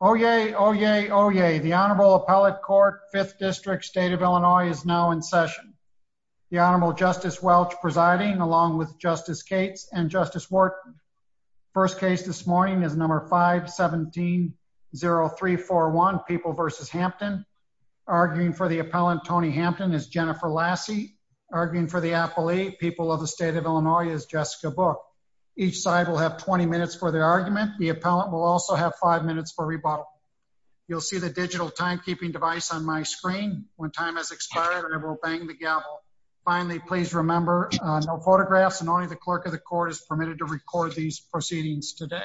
Oh, yay. Oh, yay. Oh, yay. The Honorable Appellate Court, 5th District, State of Illinois is now in session. The Honorable Justice Welch presiding along with Justice Cates and Justice Wharton. First case this morning is number 5-17-0341, People v. Hampton. Arguing for the appellant, Tony Hampton, is Jennifer Lassie. Arguing for the appellee, People of the State of Illinois, is Jessica Book. Each side will have 20 minutes for their argument. The appellant will also have five minutes for rebuttal. You'll see the digital timekeeping device on my screen. When time has expired, I will bang the gavel. Finally, please remember, no photographs and only the clerk of the court is permitted to record these proceedings today.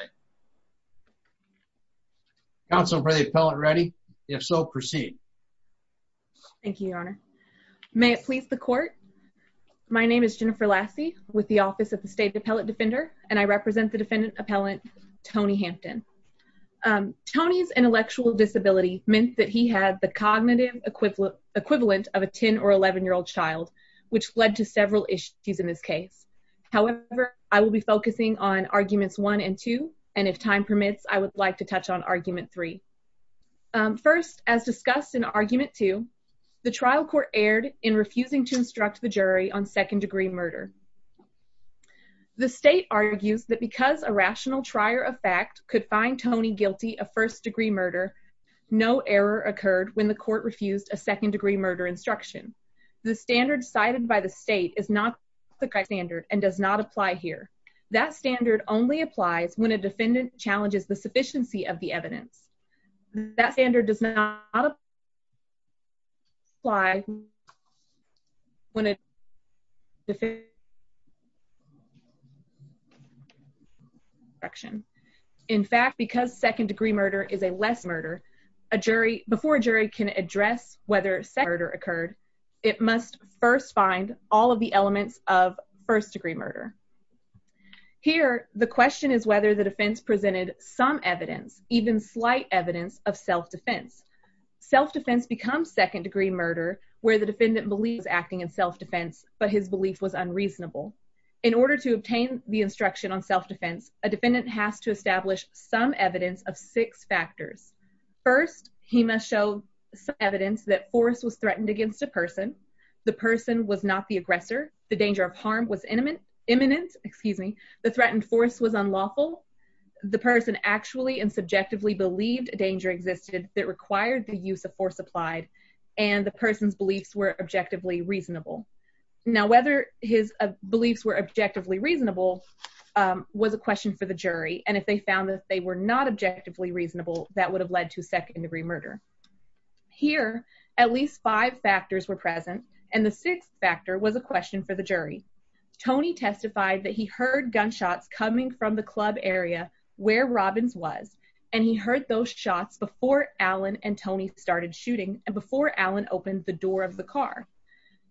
Counsel, are the appellant ready? If so, proceed. Thank you, Your Honor. May it please the court. My name is Jennifer Lassie with the State Appellate Defender, and I represent the defendant appellant, Tony Hampton. Tony's intellectual disability meant that he had the cognitive equivalent of a 10 or 11-year-old child, which led to several issues in this case. However, I will be focusing on arguments 1 and 2, and if time permits, I would like to touch on argument 3. First, as discussed in argument 2, the trial court erred in refusing to instruct the jury on second-degree murder. The state argues that because a rational trier of fact could find Tony guilty of first-degree murder, no error occurred when the court refused a second-degree murder instruction. The standard cited by the state is not the correct standard and does not apply here. That standard only applies when a defendant challenges the sufficiency of the evidence. That standard does not apply when a defendant challenges the sufficiency of the evidence. In fact, because second-degree murder is a less murder, before a jury can address whether second-degree murder occurred, it must first find all of the some evidence, even slight evidence, of self-defense. Self-defense becomes second-degree murder where the defendant believes he was acting in self-defense, but his belief was unreasonable. In order to obtain the instruction on self-defense, a defendant has to establish some evidence of six factors. First, he must show some evidence that force was threatened against a person, the person was not the aggressor, the danger of harm was imminent, the threatened force was unlawful, the person actually and subjectively believed danger existed that required the use of force applied, and the person's beliefs were objectively reasonable. Now, whether his beliefs were objectively reasonable was a question for the jury, and if they found that they were not objectively reasonable, that would have led to second-degree murder. Here, at least five factors were present, and the sixth factor was a question for the jury. Tony testified that he heard gunshots coming from the club area where Robbins was, and he heard those shots before Alan and Tony started shooting, and before Alan opened the door of the car.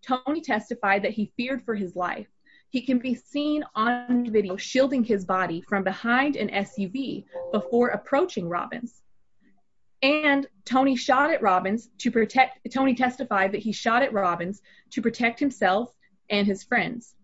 Tony testified that he feared for his life. He can be seen on video shielding his body from behind an SUV before approaching Robbins, and Tony shot at Robbins to protect, Tony testified that he shot at Robbins to protect himself and his friends.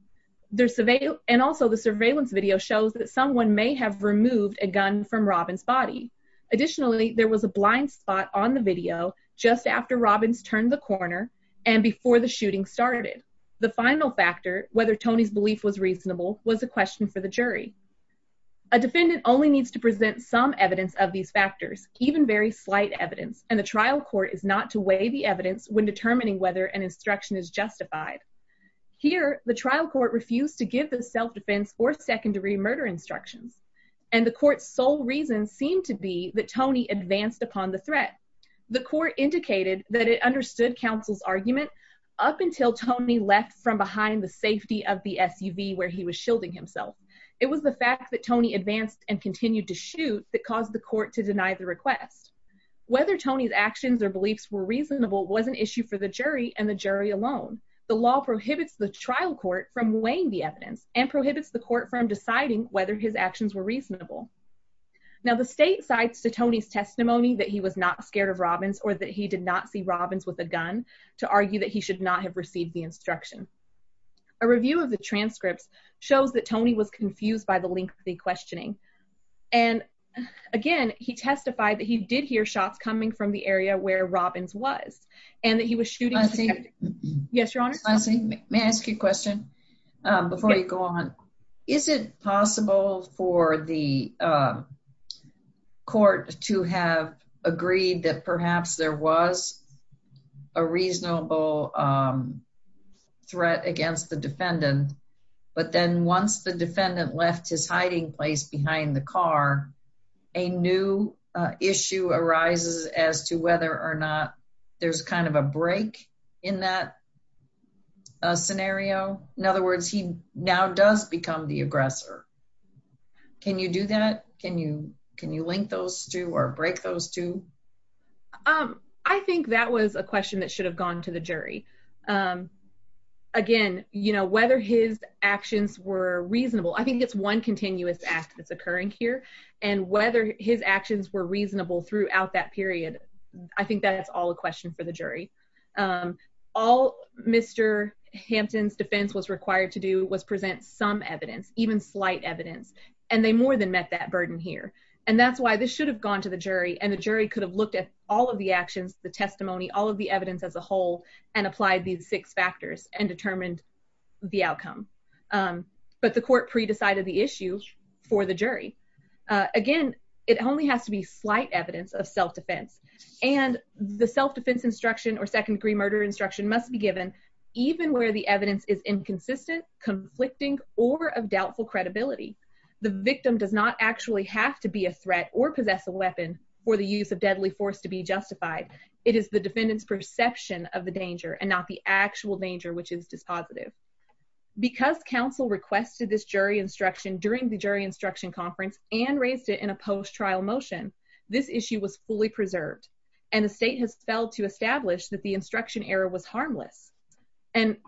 And also, the surveillance video shows that someone may have removed a gun from Robbins' body. Additionally, there was a blind spot on the video just after Robbins turned the corner and before the shooting started. The final factor, whether Tony's belief was reasonable, was a question for the jury. A defendant only needs to present some evidence of these factors, even very slight evidence, and the trial court is not to weigh the evidence when determining whether an to give the self-defense or secondary murder instructions, and the court's sole reason seemed to be that Tony advanced upon the threat. The court indicated that it understood counsel's argument up until Tony left from behind the safety of the SUV where he was shielding himself. It was the fact that Tony advanced and continued to shoot that caused the court to deny the request. Whether Tony's actions or beliefs were reasonable was an issue for the jury and the jury alone. The law prohibits the trial court from weighing the evidence and prohibits the court from deciding whether his actions were reasonable. Now, the state cites to Tony's testimony that he was not scared of Robbins or that he did not see Robbins with a gun to argue that he should not have received the instruction. A review of the transcripts shows that Tony was confused by the lengthy questioning and, again, he testified that he did hear shots coming from the area where May I ask you a question before you go on? Is it possible for the court to have agreed that perhaps there was a reasonable threat against the defendant, but then once the defendant left his hiding place behind the car, a new issue arises as to whether there's kind of a break in that scenario? In other words, he now does become the aggressor. Can you do that? Can you link those two or break those two? I think that was a question that should have gone to the jury. Again, whether his actions were reasonable, I think it's one continuous act that's occurring here, and whether his actions were reasonable throughout that period, I think that's all a question for the jury. All Mr. Hampton's defense was required to do was present some evidence, even slight evidence, and they more than met that burden here, and that's why this should have gone to the jury, and the jury could have looked at all of the actions, the testimony, all of the evidence as a whole, and applied these six factors and determined the outcome, but the court pre-decided the issue for the jury. Again, it only has to be slight evidence of self-defense, and the self-defense instruction or second-degree murder instruction must be given even where the evidence is inconsistent, conflicting, or of doubtful credibility. The victim does not actually have to be a threat or possess a weapon for the use of deadly force to be justified. It is the defendant's perception of the danger and not the actual danger, which is dispositive. Because counsel requested this jury instruction during the jury instruction conference and raised it in a post-trial motion, this issue was fully preserved, and the state has failed to establish that the instruction error was harmless, and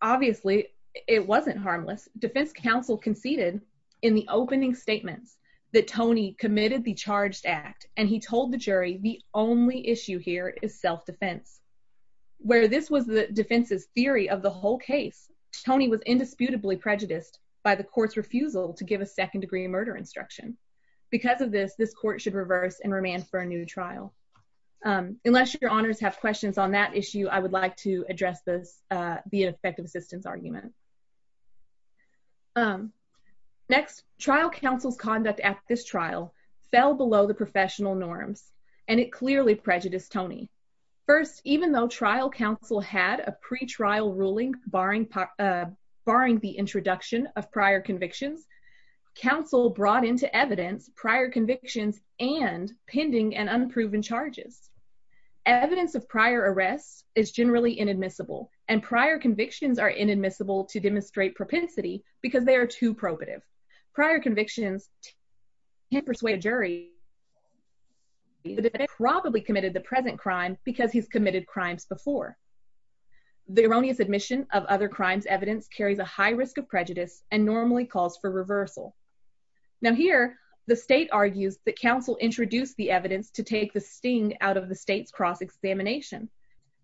obviously it wasn't harmless. Defense counsel conceded in the opening statements that Tony committed the charged act, and he told the jury the only issue here is self-defense. Where this was the defense's theory of the whole case, Tony was indisputably prejudiced by the court's refusal to give a second-degree murder instruction. Because of this, this court should reverse and remand for a new trial. Unless your honors have questions on that issue, I would like to address this via effective assistance argument. Next, trial counsel's conduct at this trial fell below the professional norms, and it clearly prejudiced Tony. First, even though trial counsel had a pre-trial ruling barring the introduction of prior convictions, counsel brought into evidence prior convictions and pending and unproven charges. Evidence of prior arrests is generally inadmissible, and prior convictions are inadmissible to demonstrate propensity because they are too probative. Prior convictions can persuade a jury that he probably committed the present crime because he's committed crimes before. The erroneous admission of other crimes evidence carries a high risk of prejudice and normally calls for reversal. Now here, the state argues that counsel introduced the evidence to take the sting out of the state's cross-examination.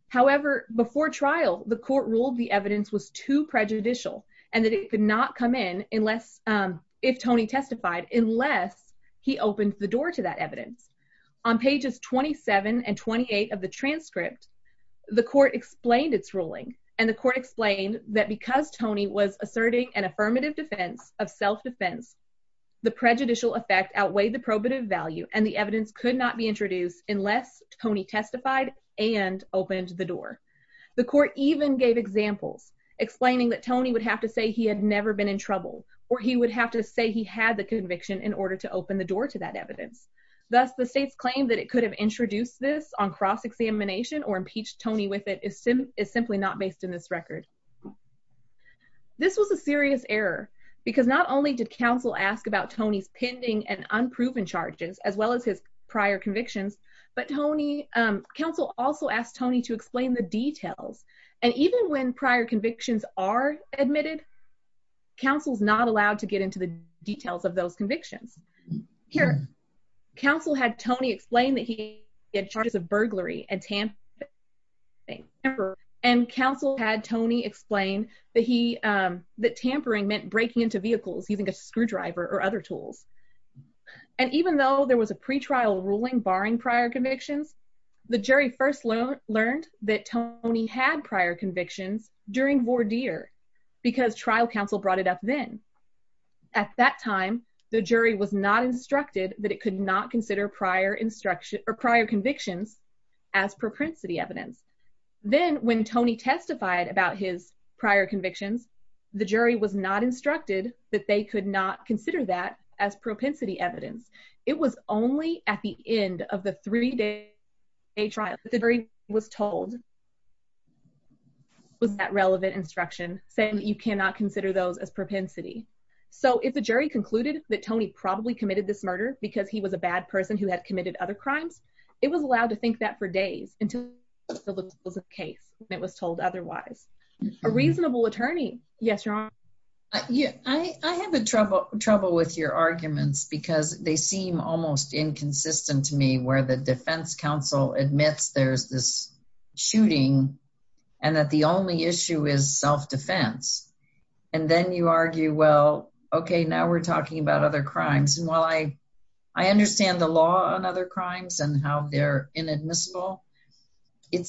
However, before trial, the court ruled the evidence was too prejudicial and that it could not come in unless, if Tony testified, unless he opened the door to that evidence. On pages 27 and 28 of the transcript, the court explained its ruling, and the court explained that because Tony was asserting an affirmative defense of self-defense, the prejudicial effect outweighed the probative value and the evidence could not be explaining that Tony would have to say he had never been in trouble or he would have to say he had the conviction in order to open the door to that evidence. Thus, the state's claim that it could have introduced this on cross-examination or impeached Tony with it is simply not based in this record. This was a serious error because not only did counsel ask about Tony's pending and unproven charges as well as his prior convictions, but Tony, counsel also asked Tony to explain the prior convictions are admitted. Counsel's not allowed to get into the details of those convictions. Here, counsel had Tony explain that he had charges of burglary and tampering, and counsel had Tony explain that he, that tampering meant breaking into vehicles using a screwdriver or other tools. And even though there was a pre-trial ruling barring prior convictions, the jury first learned that Tony had prior convictions during voir dire because trial counsel brought it up then. At that time, the jury was not instructed that it could not consider prior instruction or prior convictions as propensity evidence. Then when Tony testified about his prior convictions, the jury was not instructed that they could not consider that as propensity evidence. It was only at the end of the three-day trial that the jury was told was that relevant instruction saying that you cannot consider those as propensity. So if the jury concluded that Tony probably committed this murder because he was a bad person who had committed other crimes, it was allowed to think that for days until the case and it was told otherwise. A reasonable attorney, yes, your honor. I have trouble with your arguments because they seem almost inconsistent to me where the defense counsel admits there's this shooting and that the only issue is self-defense. And then you argue, well, okay, now we're talking about other crimes. And while I understand the law on other crimes and how they're inadmissible, it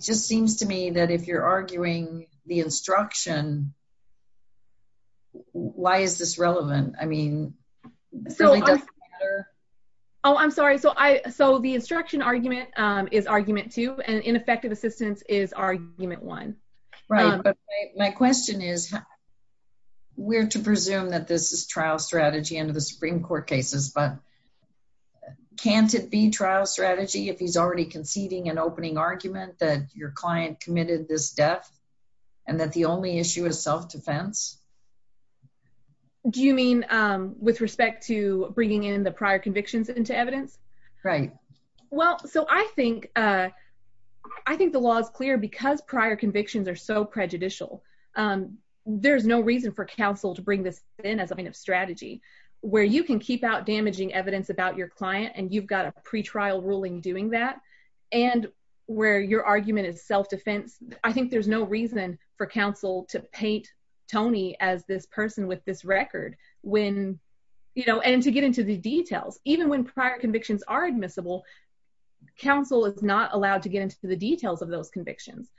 just seems to me that if you're arguing the instruction why is this relevant? I mean, it really doesn't matter. Oh, I'm sorry. So I, so the instruction argument is argument two and ineffective assistance is argument one. Right. But my question is we're to presume that this is trial strategy under the Supreme Court cases, but can't it be trial strategy if he's already conceding an opening argument that your client committed this death and that the only issue is self-defense? Do you mean with respect to bringing in the prior convictions into evidence? Right. Well, so I think, I think the law is clear because prior convictions are so prejudicial. There's no reason for counsel to bring this in as a kind of strategy where you can keep out damaging evidence about your client and you've got a pretrial ruling doing that and where your argument is self-defense. I think there's no reason for counsel to paint Tony as this person with this record when, you know, and to get into the details, even when prior convictions are admissible, counsel is not allowed to get into the details of those convictions.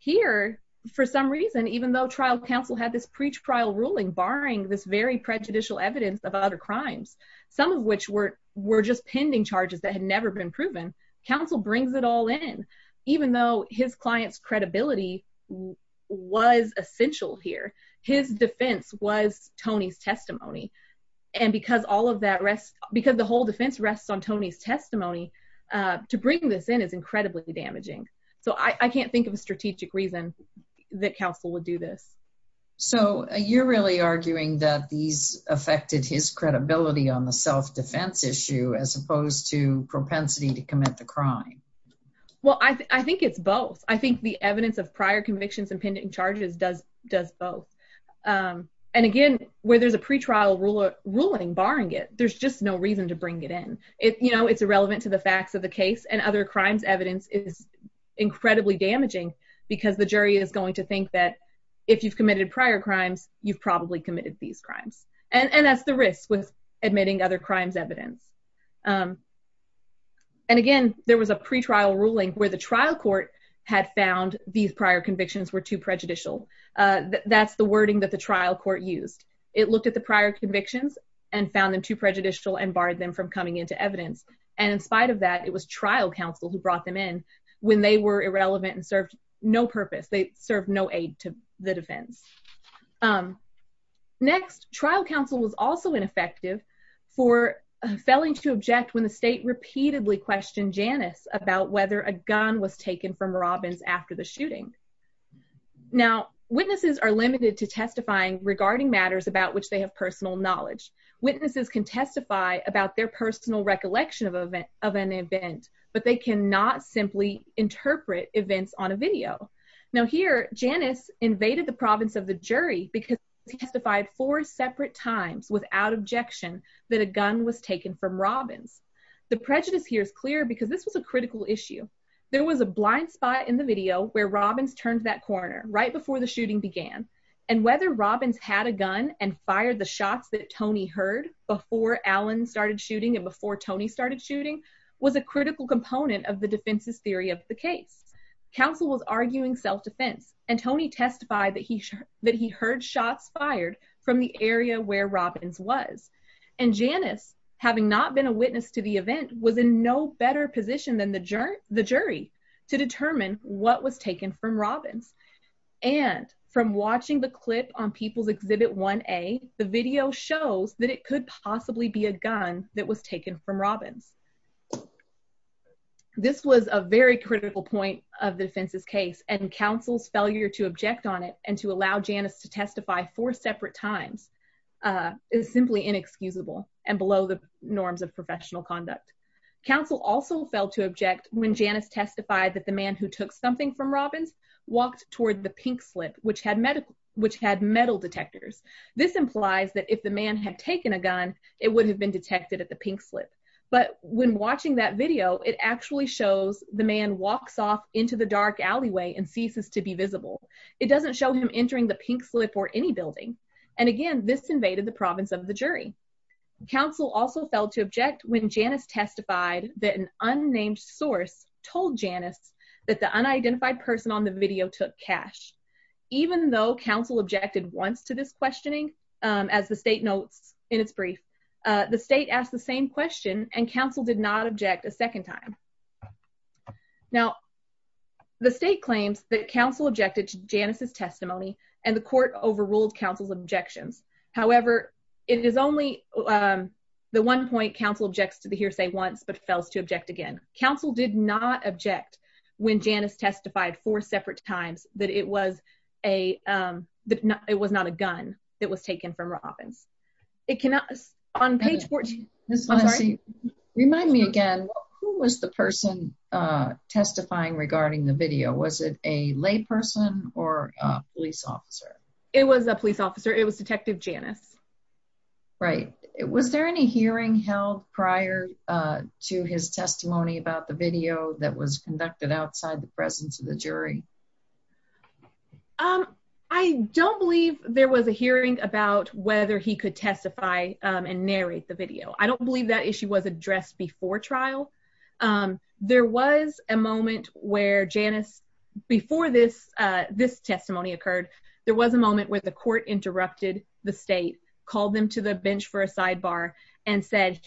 Here, for some reason, even though trial counsel had this pretrial ruling, barring this very prejudicial evidence of other crimes, some of which were just pending charges that had never been proven, counsel brings it all in. Even though his client's credibility was essential here, his defense was Tony's testimony. And because all of that rests, because the whole defense rests on Tony's testimony, to bring this in is incredibly damaging. So I can't think of a strategic reason that counsel would do this. So you're really arguing that these affected his credibility on the self-defense issue, as opposed to propensity to commit the crime? Well, I think it's both. I think the evidence of prior convictions and pending charges does both. And again, where there's a pretrial ruling barring it, there's just no reason to bring it in. You know, it's irrelevant to the facts of the case and other crimes evidence is incredibly damaging because the jury is going to think that if you committed prior crimes, you've probably committed these crimes. And that's the risk with admitting other crimes evidence. And again, there was a pretrial ruling where the trial court had found these prior convictions were too prejudicial. That's the wording that the trial court used. It looked at the prior convictions and found them too prejudicial and barred them from coming into evidence. And in spite of that, it was trial counsel who brought them in when they were Next, trial counsel was also ineffective for failing to object when the state repeatedly questioned Janice about whether a gun was taken from Robbins after the shooting. Now, witnesses are limited to testifying regarding matters about which they have personal knowledge. Witnesses can testify about their personal recollection of an event, but they cannot simply interpret events on a video. Now here, Janice invaded the province of the jury because she testified four separate times without objection that a gun was taken from Robbins. The prejudice here is clear because this was a critical issue. There was a blind spot in the video where Robbins turned that corner right before the shooting began. And whether Robbins had a gun and fired the shots that Tony heard before Alan started shooting and before Tony started shooting was a critical component of the defense's theory of the case. Counsel was arguing self-defense and Tony testified that he heard shots fired from the area where Robbins was. And Janice, having not been a witness to the event, was in no better position than the jury to determine what was taken from Robbins. And from watching the clip on People's Exhibit 1A, the video shows that it could possibly be a gun that was taken from Robbins. This was a very critical point of the defense's case and counsel's failure to object on it and to allow Janice to testify four separate times is simply inexcusable and below the norms of professional conduct. Counsel also failed to object when Janice testified that the man who took something from Robbins walked toward the pink slip which had metal detectors. This implies that if the man had taken a gun it would have been detected at the pink slip but when watching that video it actually shows the man walks off into the dark alleyway and ceases to be visible. It doesn't show him entering the pink slip or any building and again this invaded the province of the jury. Counsel also failed to object when Janice testified that an unnamed source told Janice that the unidentified person on the video took cash. Even though counsel objected once to this questioning, as the state notes in its brief, the state asked the same question and counsel did not object a second time. Now, the state claims that counsel objected to Janice's testimony and the court overruled counsel's objections. However, it is only the one point counsel objects to the hearsay once but fails to object again. Counsel did not object when Janice testified four separate times that it was not a gun that was taken from Robbins. Remind me again, who was the person testifying regarding the video? Was it a lay person or a police officer? It was a police officer. It was detective Janice. Right. Was there any hearing held prior to his testimony about the video that was conducted outside the presence of the jury? I don't believe there was a hearing about whether he could testify and narrate the video. I don't believe that issue was addressed before trial. There was a moment where Janice, before this testimony occurred, there was a moment where the court interrupted the state, called them to the bench for a sidebar and said,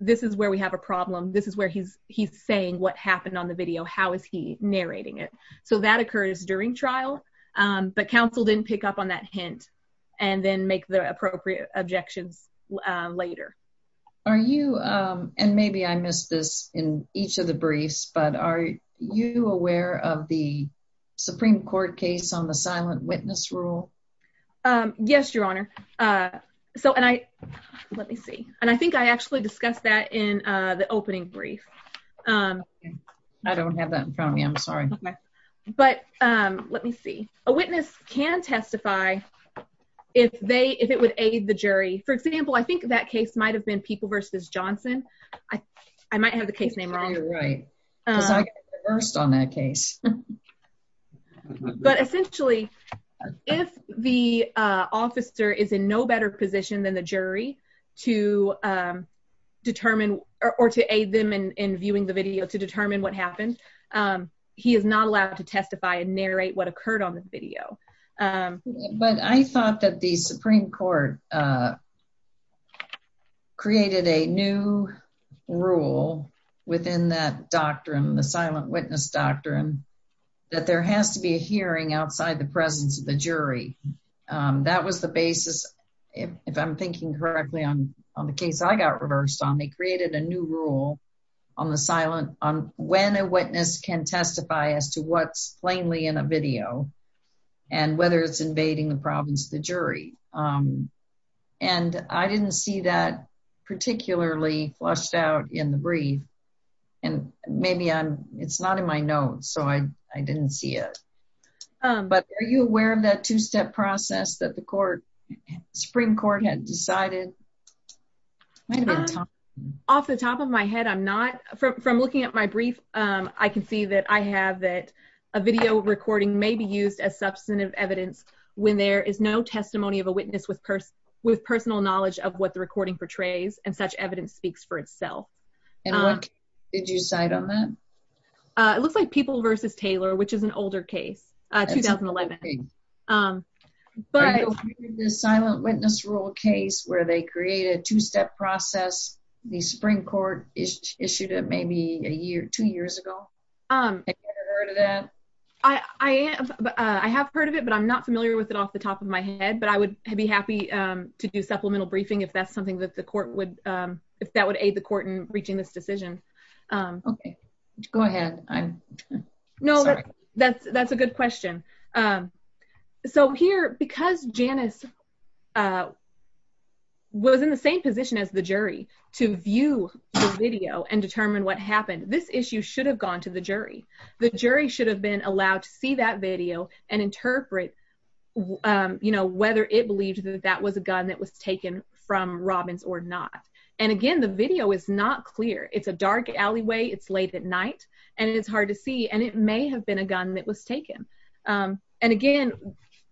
this is where we have a problem. This is where he's saying what happened on the video. How is he narrating it? So that occurs during trial, but counsel didn't pick up on that hint and then make the appropriate objections later. Are you, and maybe I missed this in each of the briefs, but are you aware of the Supreme Court case on the silent witness rule? Yes, Your Honor. Let me see. And I think I actually discussed that in the opening brief. I don't have that in front of me. I'm sorry. But let me see. A witness can testify if they, if it would aid the jury. For example, I think that case might've been Johnson. I might have the case name wrong. You're right. Because I reversed on that case. But essentially, if the officer is in no better position than the jury to determine or to aid them in viewing the video to determine what happened, he is not allowed to testify and a new rule within that doctrine, the silent witness doctrine, that there has to be a hearing outside the presence of the jury. That was the basis. If I'm thinking correctly on the case, I got reversed on. They created a new rule on the silent, on when a witness can testify as to what's plainly in a video and whether it's invading the province of the jury. Um, and I didn't see that particularly flushed out in the brief and maybe I'm, it's not in my notes. So I, I didn't see it. Um, but are you aware of that two-step process that the court Supreme court had decided off the top of my head? I'm not from looking at my brief. Um, I can see that I have that a video recording may be used as substantive evidence when there is no testimony of a witness with purse with personal knowledge of what the recording portrays and such evidence speaks for itself. And what did you cite on that? Uh, it looks like people versus Taylor, which is an older case, uh, 2011. Um, but the silent witness rule case where they create a two-step process, the Supreme court issued it maybe a year, two years ago. Um, I, I am, uh, I have heard of it, but I'm not familiar with it off the top of my head, but I would be happy, um, to do supplemental briefing if that's something that the court would, um, if that would aid the court in reaching this decision. Um, okay, go ahead. I'm no, that's, that's a good question. Um, so here, because Janice, uh, was in the same position as the jury to view the video and determine what happened, this issue should have gone to the jury. The jury should have been allowed to see that video and interpret, you know, whether it believed that that was a gun that was taken from Robbins or not. And again, the video is not clear. It's a dark alleyway. It's late at night and it's hard to see. And it may have been a gun that was taken. Um, and again,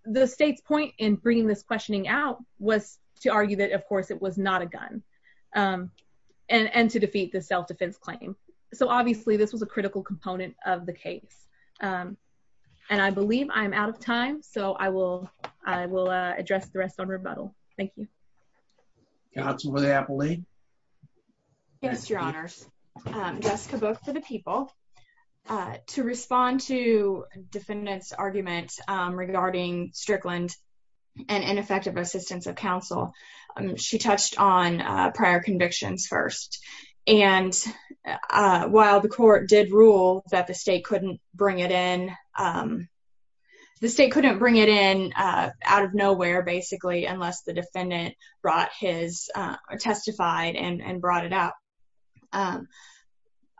the state's point in bringing this questioning out was to argue that of course it was not a gun, um, and, and to defeat the self-defense claim. So obviously this was a critical component of the case. Um, and I believe I'm out of time, so I will, I will, uh, address the rest on rebuttal. Thank you. Counsel for the appellee. Yes, your honors. Um, Jessica Book for the people, uh, to respond to defendant's argument, um, regarding Strickland and ineffective assistance of counsel. Um, she touched on, uh, prior convictions first. And, uh, while the court did rule that the state couldn't bring it in, um, the state couldn't bring it in, uh, out of nowhere, basically, unless the defendant brought his, uh, or testified and brought it out. Um,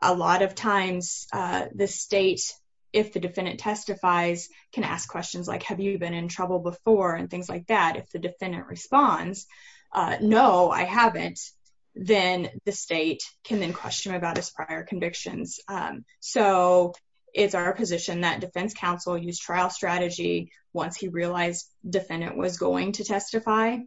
a lot of times, uh, the state, if the defendant testifies can ask questions like, have you been in trouble before? And things like that. If the defendant responds, uh, no, I haven't. Then the state can then question about his prior convictions. Um, so it's our position that defense counsel use trial strategy. Once he realized defendant was going to testify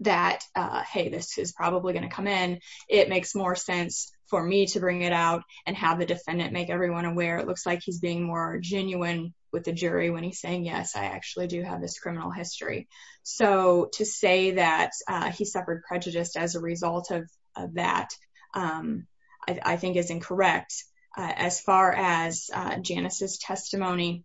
that, uh, Hey, this is probably going to come in. It makes more sense for me to bring it out and have the defendant make everyone aware. It looks like he's being more genuine with the jury when he's saying, yes, I actually do have this criminal history. So to say that, uh, he suffered prejudice as a result of that, um, I think is incorrect. As far as, uh, Janice's testimony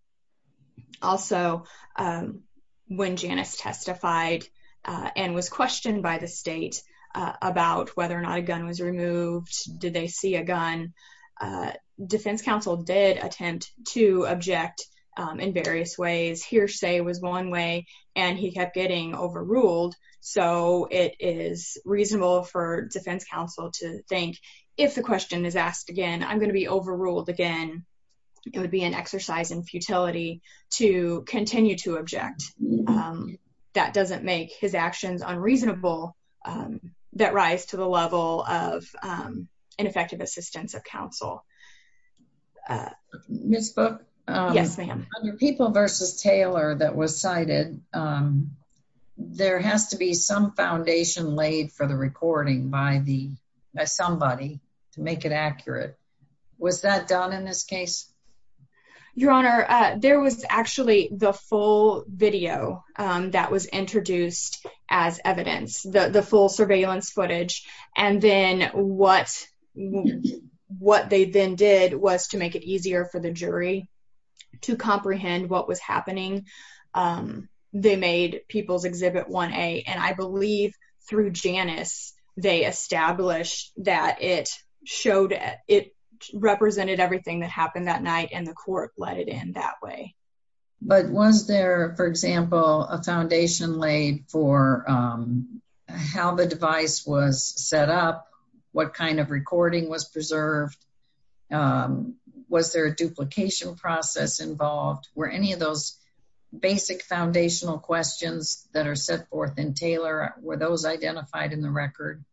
also, um, when Janice testified, uh, and was questioned by the state, uh, about whether or not a gun was removed, did they see a gun? Uh, defense counsel did attempt to object, um, in various ways here say was one way and he kept getting overruled. So it is reasonable for defense counsel to think if the question is asked again, I'm going to be overruled again. It would be an exercise in futility to continue to object. Um, that doesn't make his actions unreasonable, um, that rise to the level of, um, ineffective assistance of counsel. Uh, Ms. Book. Yes, ma'am. People versus Taylor that was cited, um, there has to be some foundation laid for the recording by the, by somebody to make it accurate. Was that done in this case? Your honor, uh, there was actually the full video, um, that was introduced as evidence, the full surveillance footage. And then what, what they then did was to make it easier for the jury to comprehend what was happening. Um, they made people's exhibit one a, and I believe through Janice, they established that it showed it represented everything that happened that night and the court let it in that way. But was there, for example, a foundation laid for, um, how the device was set up, what kind of recording was preserved? Um, was there a duplication process involved? Were any of those basic foundational questions that are set forth in Taylor, were those identified in the record?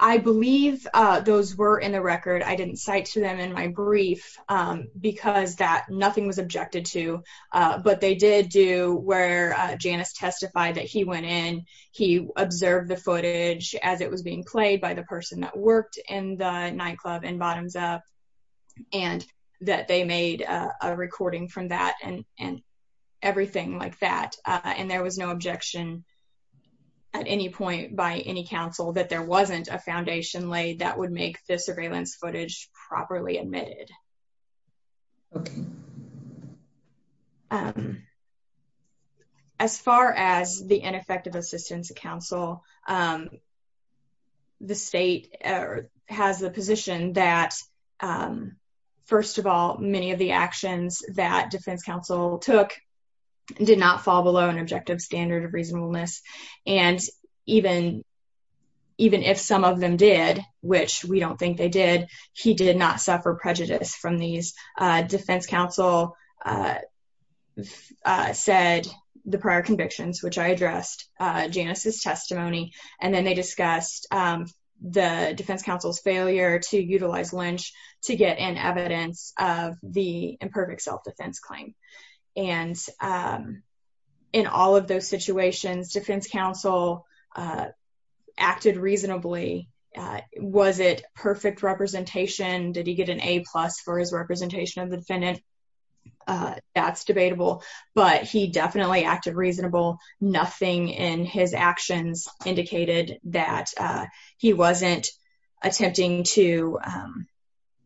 I believe, uh, those were in the record. I didn't cite to them in my brief, um, because that nothing was objected to, uh, but they did do where Janice testified that he went in, he observed the footage as it was being played by the person that worked in the nightclub and bottoms up and that they made a recording from that and, and everything like that. Uh, and there was no objection at any point by any council that there wasn't a foundation laid that would make the surveillance footage properly admitted. Okay. Um, as far as the ineffective assistance of council, um, the state, uh, has the position that, um, first of all, many of the actions that defense council took did not fall below an objective standard of reasonableness. And even, even if some of them did, which we don't think they did, he did not suffer prejudice from these, uh, defense council, uh, uh, said the prior convictions, which I addressed, uh, Janice's testimony. And then they discussed, um, the defense council's failure to utilize Lynch to get an evidence of the imperfect self-defense claim. And, um, in all of those situations, defense council, uh, acted reasonably, uh, was it perfect representation? Did he get an a plus for his representation of the defendant? Uh, that's debatable, but he definitely acted reasonable. Nothing in his actions indicated that, uh, he wasn't attempting to, um,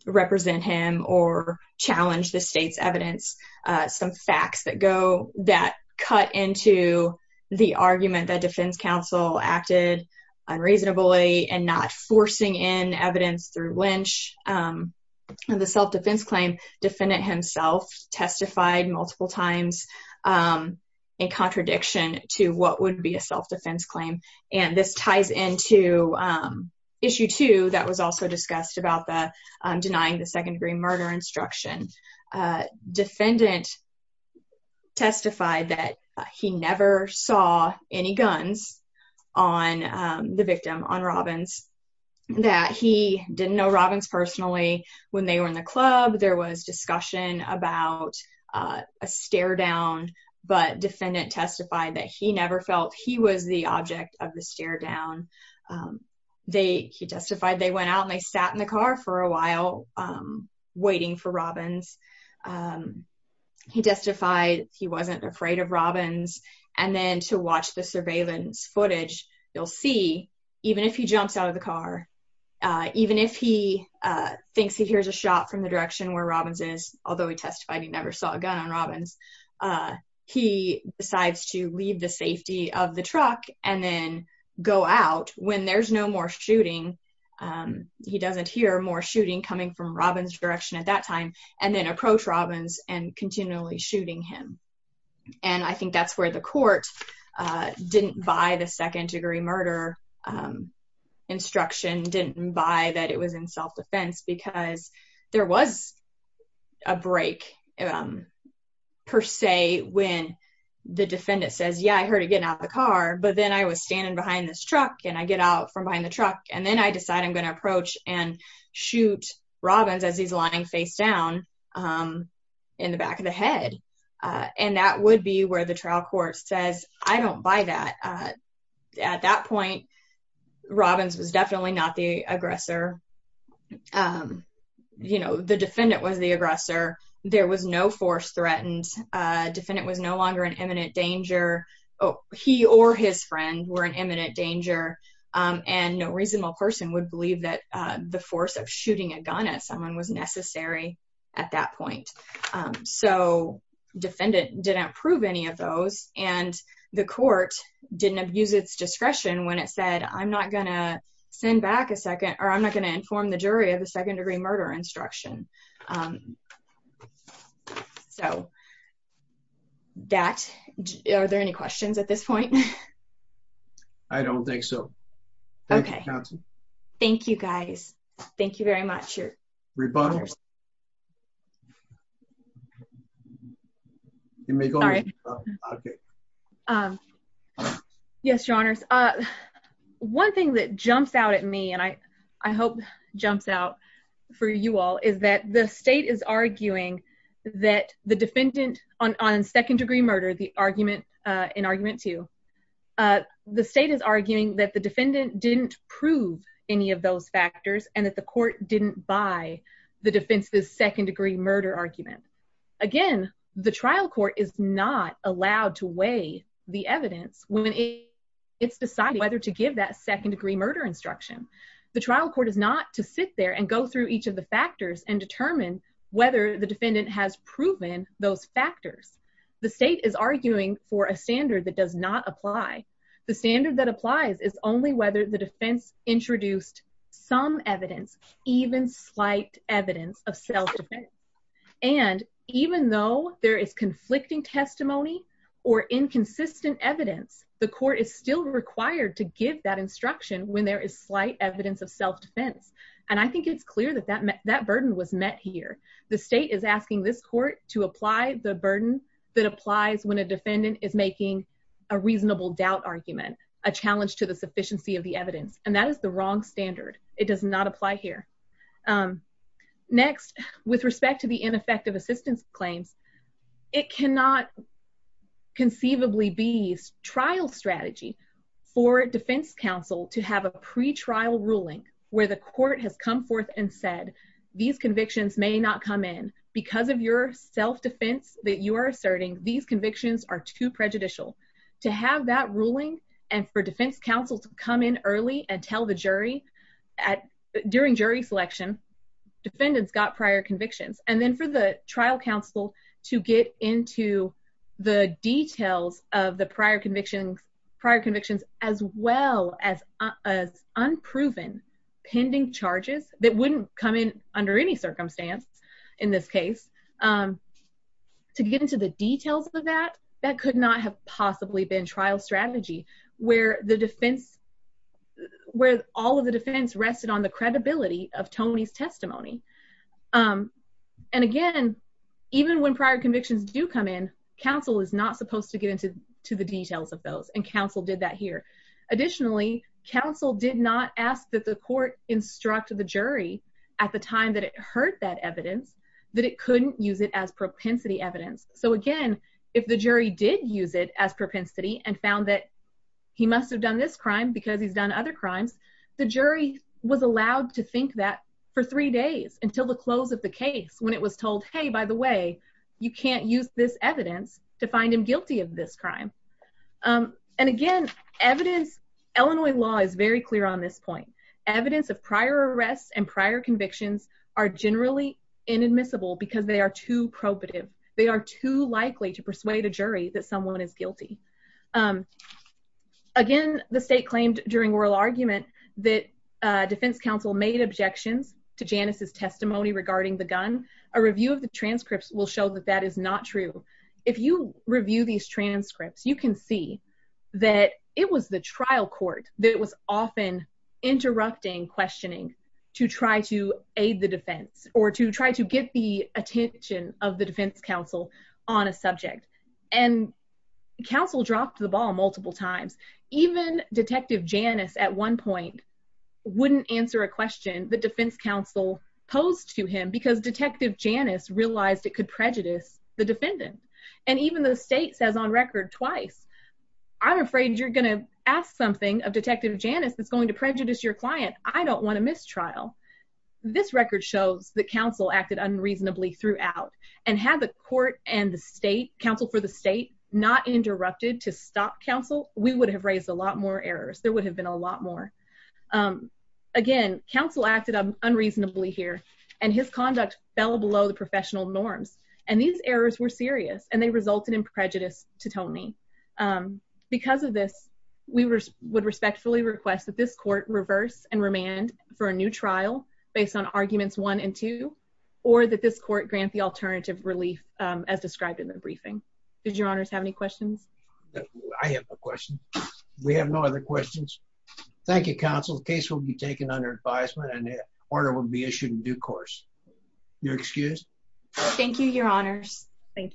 represent him or challenge the state's evidence. Uh, some facts that go that cut into the argument that defense council acted unreasonably and not forcing in evidence through Lynch. Um, and the self-defense claim defendant himself testified multiple times, um, in contradiction to what would be a self-defense claim. And this ties into, um, issue two that was also discussed about the, um, denying the second degree murder instruction. Uh, defendant testified that he never saw any guns on, um, the victim on Robbins, that he didn't know Robbins personally when they were in the club. There was discussion about, uh, a stare down, but defendant testified that he never felt he was the object of the stare down. Um, they, he testified they went out and they sat in the car for a while, um, waiting for Robbins. Um, he testified he wasn't afraid of Robbins. And then to watch the surveillance footage, you'll see, even if he jumps out of the car, uh, even if he, uh, thinks he hears a shot from direction where Robbins is, although he testified he never saw a gun on Robbins, uh, he decides to leave the safety of the truck and then go out when there's no more shooting. Um, he doesn't hear more shooting coming from Robbins direction at that time and then approach Robbins and continually shooting him. And I think that's where the court, uh, didn't buy the second a break, um, per se, when the defendant says, yeah, I heard it getting out of the car, but then I was standing behind this truck and I get out from behind the truck. And then I decide I'm going to approach and shoot Robbins as he's lying face down, um, in the back of the head. And that would be where the trial court says, I don't buy that. Uh, at that point, Robbins was the aggressor. There was no force threatened. Uh, defendant was no longer an imminent danger. Oh, he or his friend were an imminent danger. Um, and no reasonable person would believe that, uh, the force of shooting a gun at someone was necessary at that point. Um, so defendant didn't approve any of those and the court didn't abuse its discretion when it said, I'm not going to send back a second, or I'm not going to inform the jury of the second degree murder instruction. Um, so that, are there any questions at this point? I don't think so. Okay. Thank you guys. Thank you very much. Um, yes, your honors. Uh, one thing that jumps out at me and I, I hope jumps out for you all is that the state is arguing that the defendant on, on second degree murder, the argument, uh, in argument to, uh, the state is arguing that the defendant didn't prove any of those factors and the court didn't buy the defense's second degree murder argument. Again, the trial court is not allowed to weigh the evidence when it's deciding whether to give that second degree murder instruction. The trial court is not to sit there and go through each of the factors and determine whether the defendant has proven those factors. The state is arguing for a standard that does not apply. The standard that applies is only whether the defense introduced some evidence, even slight evidence of self-defense. And even though there is conflicting testimony or inconsistent evidence, the court is still required to give that instruction when there is slight evidence of self-defense. And I think it's clear that that, that burden was met here. The state is asking this court to apply the burden that applies when a defendant is making a reasonable doubt argument, a challenge to the sufficiency of the evidence. And that is the wrong standard. It does not apply here. Um, next with respect to the ineffective assistance claims, it cannot conceivably be trial strategy for defense counsel to have a pretrial ruling where the court has come forth and said, these convictions may not come in because of your self-defense that you are asserting. These convictions are too prejudicial to have that ruling. And for defense counsel to come in early and tell the jury at during jury selection, defendants got prior convictions. And then for the trial counsel to get into the details of the prior convictions, prior convictions, as well as as unproven pending charges that wouldn't come in under any circumstance in this case, um, to get into the details of that, that could not have possibly been trial strategy where the defense where all of the defense rested on the credibility of Tony's testimony. Um, and again, even when prior convictions do come in, counsel is not supposed to get into, to the details of those. And counsel did that here. Additionally, counsel did not ask that the court instruct the jury at the time that it heard that evidence, that it couldn't use it as propensity evidence. So again, if the jury did use it as propensity and found that he must've done this crime because he's done other crimes, the jury was allowed to think that for three days until the close of the case when it was told, Hey, by the way, you can't use this evidence to find him guilty of this crime. Um, and again, evidence, Illinois law is very clear on this point. Evidence of prior arrests and prior convictions are generally inadmissible because they are too probative. They are too likely to persuade a jury that someone is guilty. Um, again, the state claimed during oral argument that, uh, defense counsel made objections to Janice's testimony regarding the gun. A review of the transcripts will show that that is not true. If you review these transcripts, you can see that it was the trial court that was often interrupting questioning to try to aid the defense or to try to get the attention of the defense counsel on a subject. And counsel dropped the ball multiple times. Even detective Janice at one point wouldn't answer a question. The defense counsel posed to him because detective Janice realized it could prejudice the defendant. And even though the something of detective Janice, that's going to prejudice your client. I don't want to miss trial. This record shows that counsel acted unreasonably throughout and have the court and the state counsel for the state not interrupted to stop counsel. We would have raised a lot more errors. There would have been a lot more, um, again, counsel acted unreasonably here and his conduct fell below the professional norms. And these errors were serious and they resulted in prejudice to Tony. Um, because of this, we were, would respectfully request that this court reverse and remand for a new trial based on arguments one and two, or that this court grant the alternative relief, um, as described in the briefing. Did your honors have any questions? I have a question. We have no other questions. Thank you. Counsel's case will be taken under advisement and the order will be issued in due course. You're excused. Thank you. Your honors. Thank you.